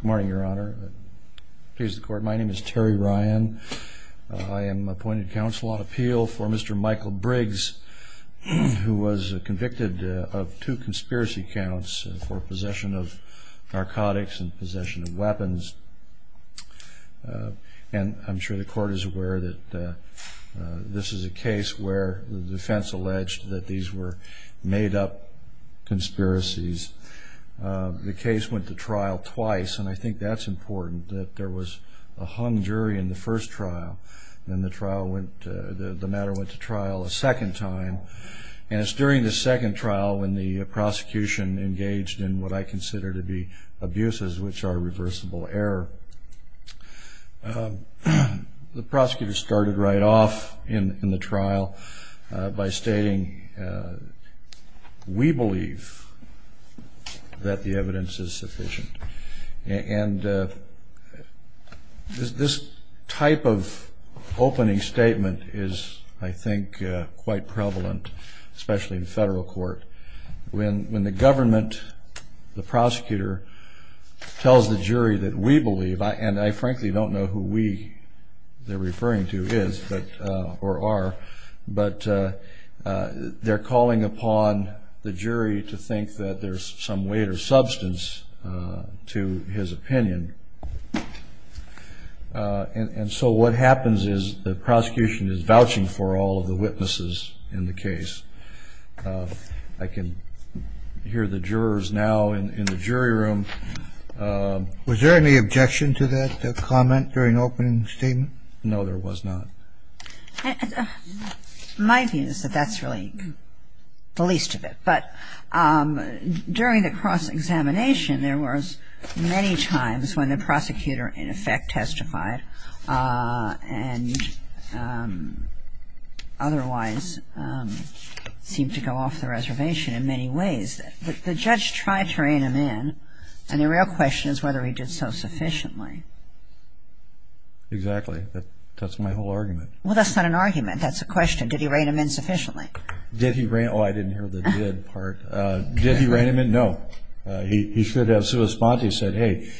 Good morning, Your Honor. My name is Terry Ryan. I am appointed counsel on appeal for Mr. Michael Briggs, who was convicted of two conspiracy counts for possession of narcotics and possession of weapons. And I'm sure the court is aware that this is a case where the defense alleged that these were made up conspiracies. The case went to trial twice, and I think that's important, that there was a hung jury in the first trial, and the matter went to trial a second time. And it's during the second trial when the prosecution engaged in what I consider to be abuses, which are reversible error. The prosecutor started right off in the trial by stating, we believe that the evidence is sufficient. And this type of opening statement is, I think, quite prevalent, especially in federal court. When the government, the prosecutor, tells the jury that we believe, and I frankly don't know who we they're referring to is or are, but they're calling upon the jury to think that there's some weight or substance to his opinion. And so what happens is the prosecution is vouching for all of the witnesses in the case. I can hear the jurors now in the jury room. Was there any objection to that comment during the opening statement? No, there was not. My view is that that's really the least of it. But during the cross-examination, there was many times when the prosecutor in effect testified and otherwise seemed to go off the reservation in many ways. The judge tried to rein him in, and the real question is whether he did so sufficiently. Exactly. That's my whole argument. Well, that's not an argument. That's a question. Did he rein him in sufficiently? Did he rein him in? Oh, I didn't hear the did part. Did he rein him in? No. He should have said, hey,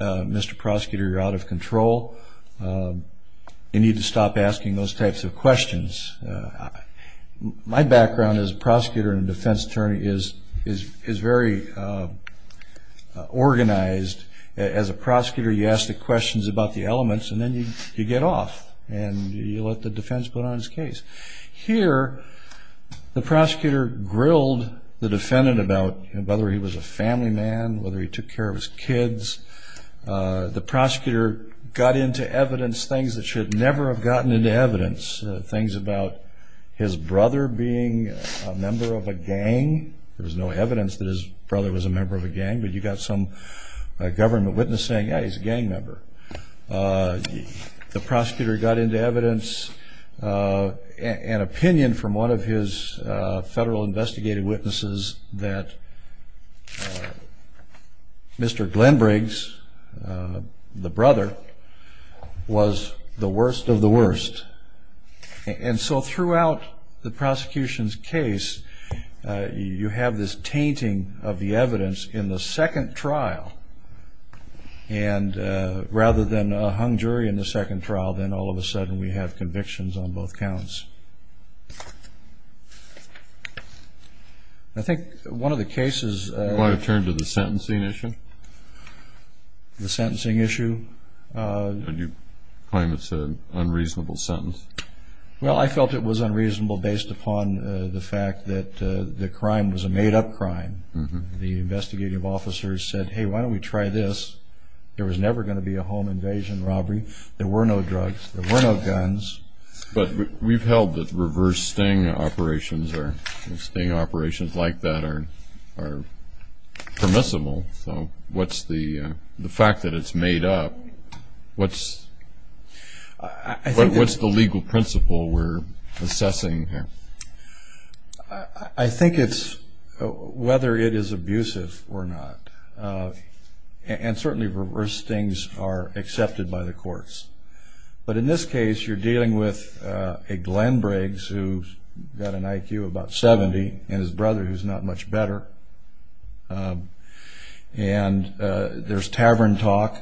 Mr. Prosecutor, you're out of control. You need to stop asking those types of questions. My background as a prosecutor and defense attorney is very organized. As a prosecutor, you ask the questions about the elements, and then you get off and you let the defense put on his case. Here, the prosecutor grilled the defendant about whether he was a family man, whether he took care of his kids. The prosecutor got into evidence, things that should never have gotten into evidence, things about his brother being a member of a gang. There was no evidence that his brother was a member of a gang, but you got some government witness saying, yeah, he's a gang member. The prosecutor got into evidence and opinion from one of his federal investigative witnesses that Mr. Glenbriggs, the brother, was the worst of the worst. And so throughout the prosecution's case, you have this tainting of the evidence in the second trial. And rather than a hung jury in the second trial, then all of a sudden we have convictions on both counts. I think one of the cases- You want to turn to the sentencing issue? The sentencing issue? You claim it's an unreasonable sentence. Well, I felt it was unreasonable based upon the fact that the crime was a made-up crime. The investigative officers said, hey, why don't we try this? There was never going to be a home invasion robbery. There were no drugs. There were no guns. But we've held that reverse sting operations or sting operations like that are permissible. So what's the fact that it's made up? What's the legal principle we're assessing here? I think it's whether it is abusive or not. And certainly reverse stings are accepted by the courts. But in this case, you're dealing with a Glen Briggs who's got an IQ of about 70 and his brother who's not much better. And there's tavern talk,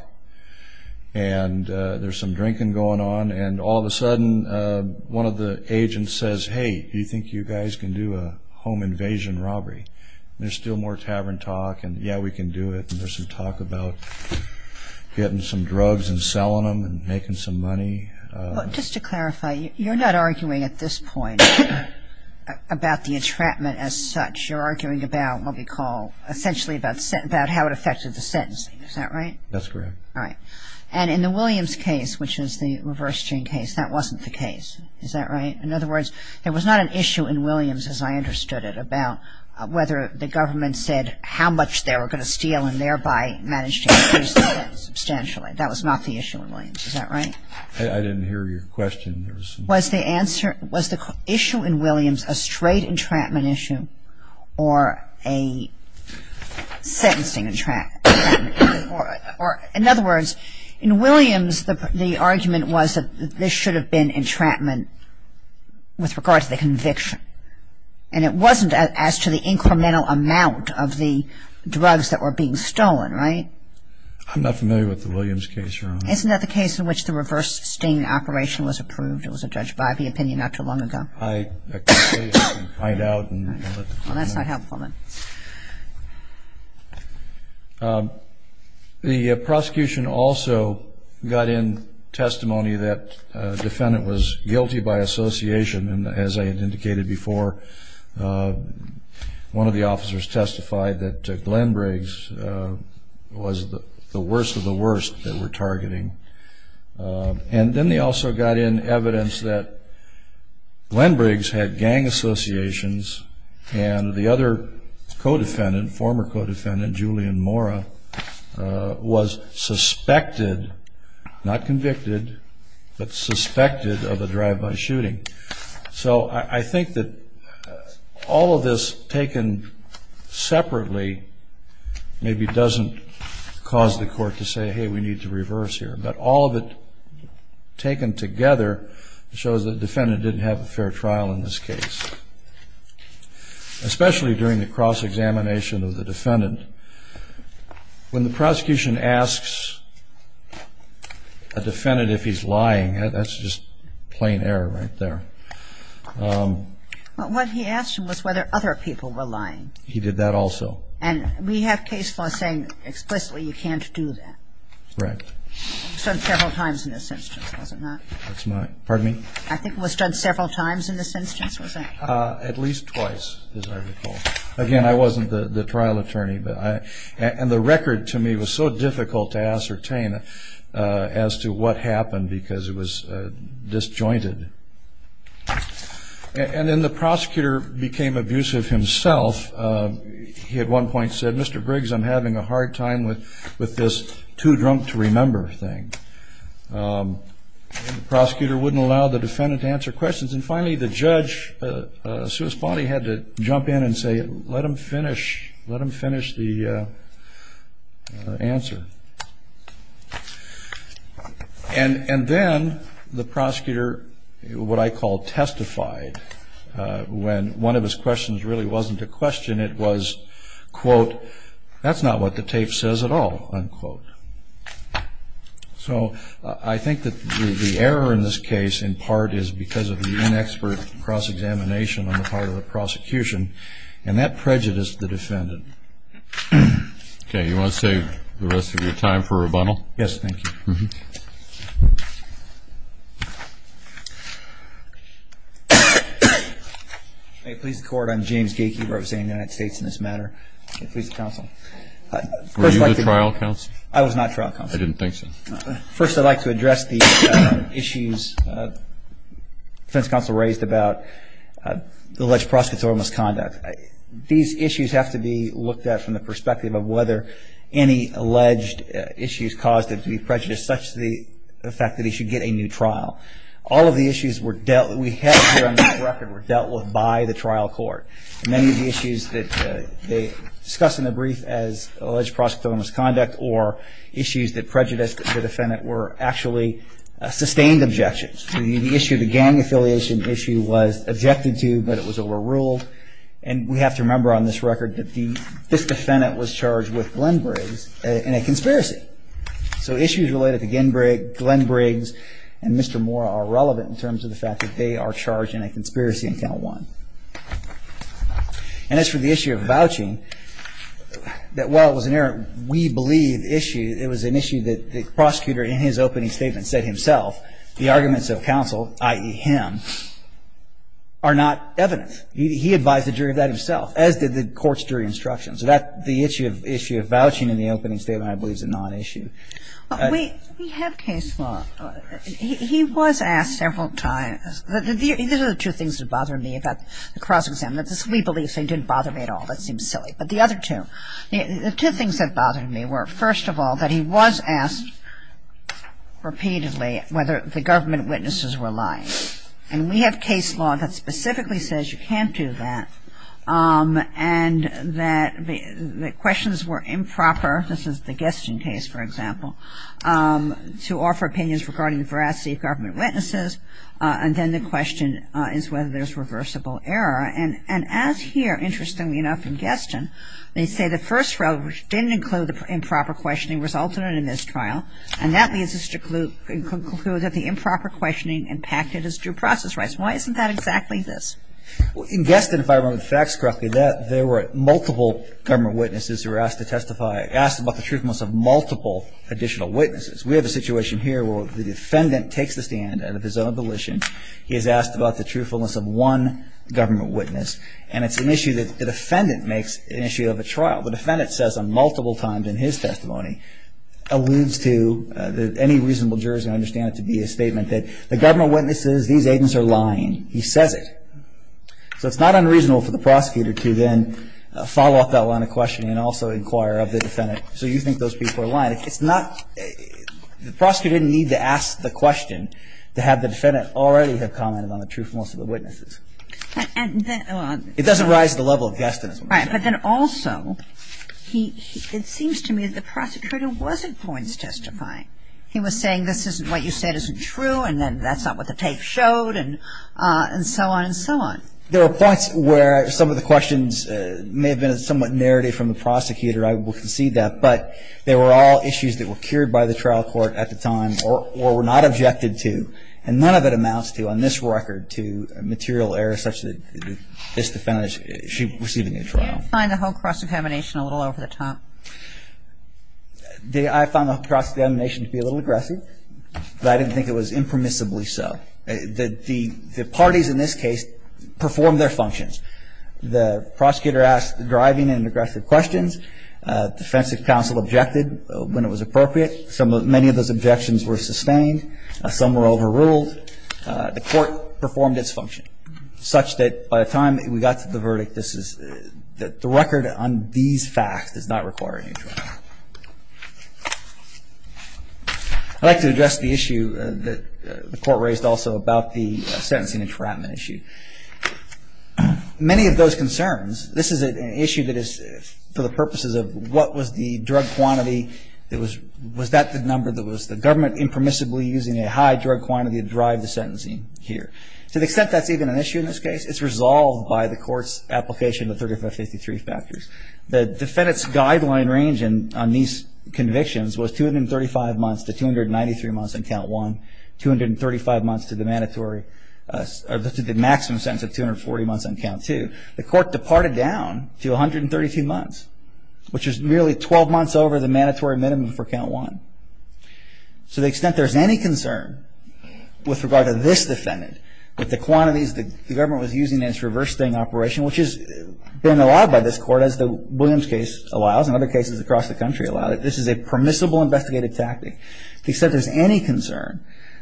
and there's some drinking going on, and all of a sudden one of the agents says, hey, do you think you guys can do a home invasion robbery? And there's still more tavern talk, and yeah, we can do it. And there's some talk about getting some drugs and selling them and making some money. Just to clarify, you're not arguing at this point about the entrapment as such. You're arguing about what we call essentially about how it affected the sentencing. Is that right? That's correct. All right. And in the Williams case, which is the reverse sting case, that wasn't the case. Is that right? In other words, there was not an issue in Williams, as I understood it, about whether the government said how much they were going to steal and thereby managed to increase the debt substantially. That was not the issue in Williams. Is that right? I didn't hear your question. Was the issue in Williams a straight entrapment issue or a sentencing entrapment issue? In other words, in Williams, the argument was that this should have been entrapment with regard to the conviction. And it wasn't as to the incremental amount of the drugs that were being stolen. Right? I'm not familiar with the Williams case, Your Honor. Isn't that the case in which the reverse sting operation was approved? It was a Judge Bivey opinion not too long ago. I can't say. I can find out. Well, that's not helpful then. The prosecution also got in testimony that the defendant was guilty by association, and as I had indicated before, one of the officers testified that Glenn Briggs was the worst of the worst that we're targeting. And then they also got in evidence that Glenn Briggs had gang associations and the other co-defendant, former co-defendant, Julian Mora, was suspected, not convicted, but suspected of a drive-by shooting. So I think that all of this taken separately maybe doesn't cause the court to say, hey, we need to reverse here. But all of it taken together shows the defendant didn't have a fair trial in this case, especially during the cross-examination of the defendant. When the prosecution asks a defendant if he's lying, that's just plain error right there. What he asked him was whether other people were lying. He did that also. And we have case law saying explicitly you can't do that. Right. It was done several times in this instance, was it not? Pardon me? I think it was done several times in this instance, was it? At least twice, as I recall. Again, I wasn't the trial attorney. And the record to me was so difficult to ascertain as to what happened because it was disjointed. And then the prosecutor became abusive himself. He at one point said, Mr. Briggs, I'm having a hard time with this too-drunk-to-remember thing. The prosecutor wouldn't allow the defendant to answer questions. And finally, the judge, Suos-Ponte, had to jump in and say, let him finish the answer. And then the prosecutor, what I call testified, when one of his questions really wasn't a question, it was, quote, that's not what the tape says at all, unquote. So I think that the error in this case, in part, is because of the inexpert cross-examination on the part of the prosecution. And that prejudiced the defendant. Okay. You want to save the rest of your time for rebuttal? Yes, thank you. May it please the Court, I'm James Gaykey representing the United States in this matter. May it please the Counsel. Were you the trial counsel? I was not trial counsel. I didn't think so. First, I'd like to address the issues the defense counsel raised about the alleged prosecutor's misconduct. These issues have to be looked at from the perspective of whether any alleged issues caused him to be prejudiced, such the fact that he should get a new trial. All of the issues we have here on this record were dealt with by the trial court. Many of the issues that they discussed in the brief as alleged prosecutor's misconduct or issues that prejudiced the defendant were actually sustained objections. The issue of the gang affiliation issue was objected to, but it was overruled. And we have to remember on this record that this defendant was charged with Glen Briggs in a conspiracy. So issues related to Glen Briggs and Mr. Moore are relevant in terms of the fact that they are charged in a conspiracy, and that's the intent of one. And as for the issue of vouching, that while it was an error, we believe issue, it was an issue that the prosecutor in his opening statement said himself, the arguments of counsel, i.e., him, are not evident. He advised the jury of that himself, as did the court's jury instruction. So that's the issue of vouching in the opening statement, I believe, is a non-issue. We have case law. He was asked several times. These are the two things that bother me about the cross-examination. This we believe thing didn't bother me at all. That seems silly. But the other two. The two things that bothered me were, first of all, that he was asked repeatedly whether the government witnesses were lying. And we have case law that specifically says you can't do that, and that the questions were improper. This is the Gesting case, for example, to offer opinions regarding the veracity of government witnesses, and then the question is whether there's reversible error. And as here, interestingly enough, in Gesting, they say the first rule, which didn't include the improper questioning, resulted in a mistrial, and that leads us to conclude that the improper questioning impacted his due process rights. Why isn't that exactly this? In Gesting, if I remember the facts correctly, there were multiple government witnesses who were asked to testify, asked about the truthfulness of multiple additional witnesses. We have a situation here where the defendant takes the stand out of his own volition. He is asked about the truthfulness of one government witness, and it's an issue that the defendant makes an issue of a trial. The defendant says them multiple times in his testimony, alludes to any reasonable jurors can understand it to be a statement that the government witnesses, these agents are lying. He says it. So it's not unreasonable for the prosecutor to then follow up that line of questioning and also inquire of the defendant, so you think those people are lying. It's not. The prosecutor didn't need to ask the question to have the defendant already have commented on the truthfulness of the witnesses. It doesn't rise to the level of Gesting. All right. But then also, it seems to me that the prosecutor wasn't points testifying. He was saying this isn't what you said isn't true, and then that's not what the tape showed, and so on and so on. There were points where some of the questions may have been somewhat narrated from the prosecutor. I will concede that. But they were all issues that were cured by the trial court at the time or were not objected to, and none of it amounts to, on this record, to material error such that this defendant, she received a new trial. I find the whole cross-examination a little over the top. I found the cross-examination to be a little aggressive, but I didn't think it was impermissibly so. The parties in this case performed their functions. The prosecutor asked driving and aggressive questions. Defensive counsel objected when it was appropriate. Many of those objections were sustained. Some were overruled. The court performed its function such that by the time we got to the verdict, this is the record on these facts does not require a new trial. I'd like to address the issue that the court raised also about the sentencing entrapment issue. Many of those concerns, this is an issue that is for the purposes of what was the drug quantity, was that the number that was the government impermissibly using a high drug quantity to drive the sentencing here. To the extent that's even an issue in this case, it's resolved by the court's application of 3553 factors. The defendant's guideline range on these convictions was 235 months to 293 months on count one, 235 months to the mandatory, to the maximum sentence of 240 months on count two. The court departed down to 132 months, which is nearly 12 months over the mandatory minimum for count one. To the extent there's any concern with regard to this defendant with the quantities the government was using in its reverse sting operation, which has been allowed by this court, as the Williams case allows and other cases across the country allow it, this is a permissible investigative tactic. To the extent there's any concern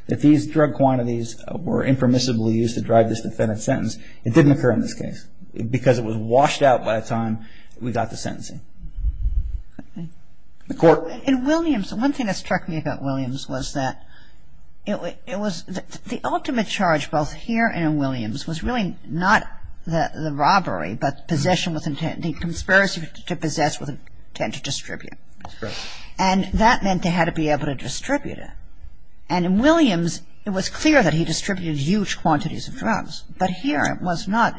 that these drug quantities were impermissibly used to drive this defendant's sentence, it didn't occur in this case because it was washed out by the time we got to sentencing. The court. And Williams, one thing that struck me about Williams was that it was the ultimate charge both here and in Williams was really not the robbery but possession with intent, the conspiracy to possess with intent to distribute. That's correct. And in Williams, it was clear that he distributed huge quantities of drugs. But here it was not.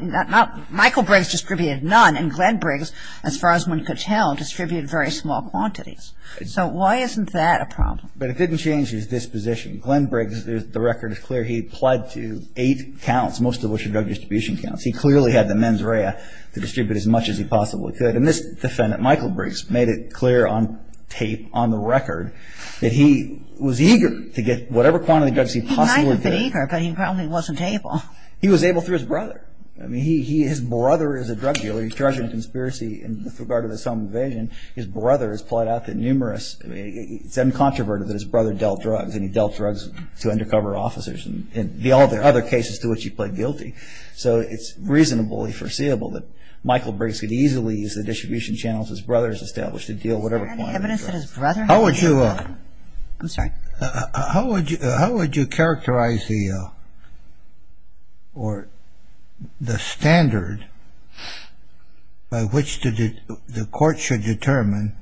Michael Briggs distributed none and Glenn Briggs, as far as one could tell, distributed very small quantities. So why isn't that a problem? But it didn't change his disposition. Glenn Briggs, the record is clear. He pled to eight counts, most of which are drug distribution counts. He clearly had the mens rea to distribute as much as he possibly could. And this defendant, Michael Briggs, made it clear on tape, on the record, that he was eager to get whatever quantity of drugs he possibly could. He might have been eager, but he probably wasn't able. He was able through his brother. I mean, his brother is a drug dealer. He's charging a conspiracy with regard to this home invasion. His brother has plied out the numerous. I mean, it's uncontroverted that his brother dealt drugs, and he dealt drugs to undercover officers. And there are other cases to which he pled guilty. So it's reasonably foreseeable that Michael Briggs could easily use the distribution channels his brother has established to deal with whatever quantity of drugs. How would you characterize the standard by which the court should determine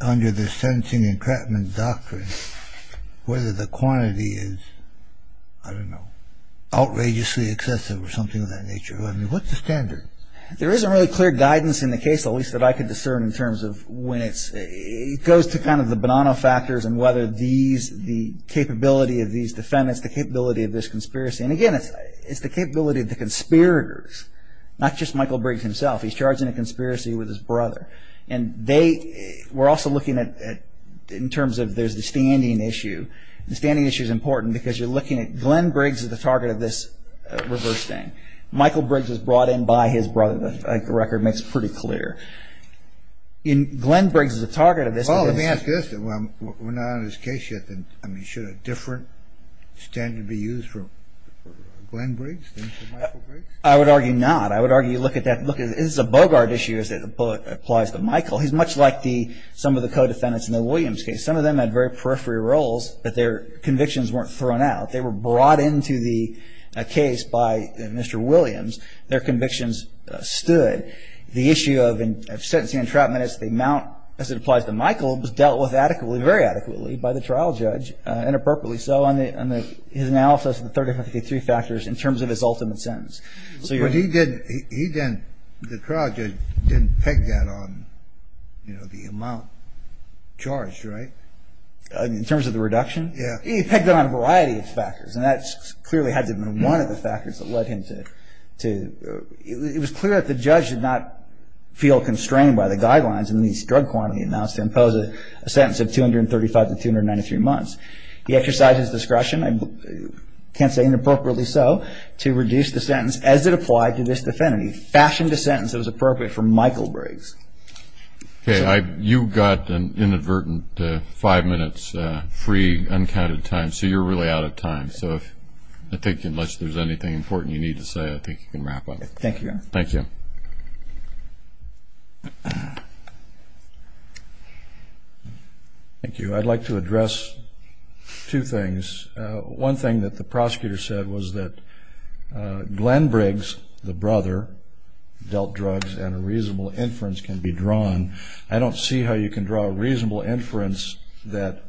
under the sentencing and treatment doctrine whether the quantity is, I don't know, outrageously excessive or something of that nature? I mean, what's the standard? There isn't really clear guidance in the case, at least that I could discern in terms of when it's, it goes to kind of the banana factors and whether these, the capability of these defendants, the capability of this conspiracy. And, again, it's the capability of the conspirators, not just Michael Briggs himself. He's charging a conspiracy with his brother. And they were also looking at in terms of there's the standing issue. The standing issue is important because you're looking at Glenn Briggs is the target of this reverse thing. Michael Briggs was brought in by his brother. The record makes it pretty clear. Glenn Briggs is the target of this. Well, let me ask this. We're not on his case yet. I mean, should a different standard be used for Glenn Briggs than for Michael Briggs? I would argue not. I would argue look at that. Look, this is a Bogart issue as it applies to Michael. He's much like some of the co-defendants in the Williams case. Some of them had very periphery roles, but their convictions weren't thrown out. They were brought into the case by Mr. Williams. Their convictions stood. The issue of sentencing entrapment as it applies to Michael was dealt with adequately, very adequately by the trial judge, and appropriately so, on his analysis of the 3053 factors in terms of his ultimate sentence. But he didn't, the trial judge didn't peg that on the amount charged, right? In terms of the reduction? Yeah. He pegged that on a variety of factors, and that clearly had to have been one of the factors that led him to, it was clear that the judge did not feel constrained by the guidelines in the drug quantity announced to impose a sentence of 235 to 293 months. He exercised his discretion, I can't say inappropriately so, to reduce the sentence as it applied to this defendant. He fashioned a sentence that was appropriate for Michael Briggs. Okay. You got an inadvertent five minutes free, uncounted time, so you're really out of time. So I think unless there's anything important you need to say, I think you can wrap up. Thank you. Thank you. Thank you. I'd like to address two things. One thing that the prosecutor said was that Glenn Briggs, the brother, dealt drugs and a reasonable inference can be drawn. I don't see how you can draw a reasonable inference that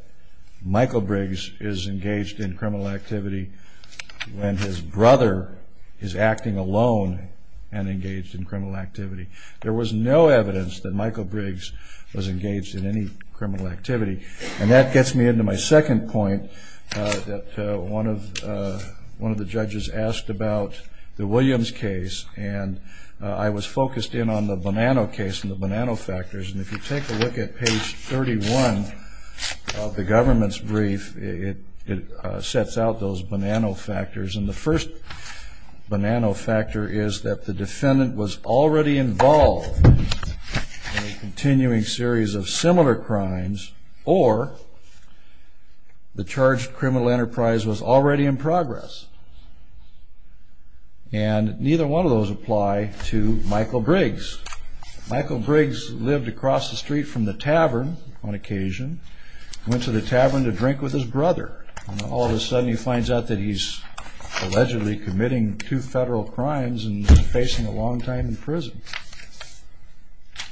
Michael Briggs is engaged in criminal activity when his brother is acting alone and engaged in criminal activity. There was no evidence that Michael Briggs was engaged in any criminal activity. And that gets me into my second point, that one of the judges asked about the Williams case, and I was focused in on the Bonanno case and the Bonanno factors. And if you take a look at page 31 of the government's brief, it sets out those Bonanno factors. And the first Bonanno factor is that the defendant was already involved in a continuing series of similar crimes, or the charged criminal enterprise was already in progress. And neither one of those apply to Michael Briggs. Michael Briggs lived across the street from the tavern on occasion, went to the tavern to drink with his brother, and all of a sudden he finds out that he's allegedly committing two federal crimes and is facing a long time in prison.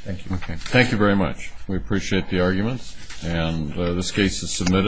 Thank you. Thank you very much. We appreciate the arguments. And this case is submitted.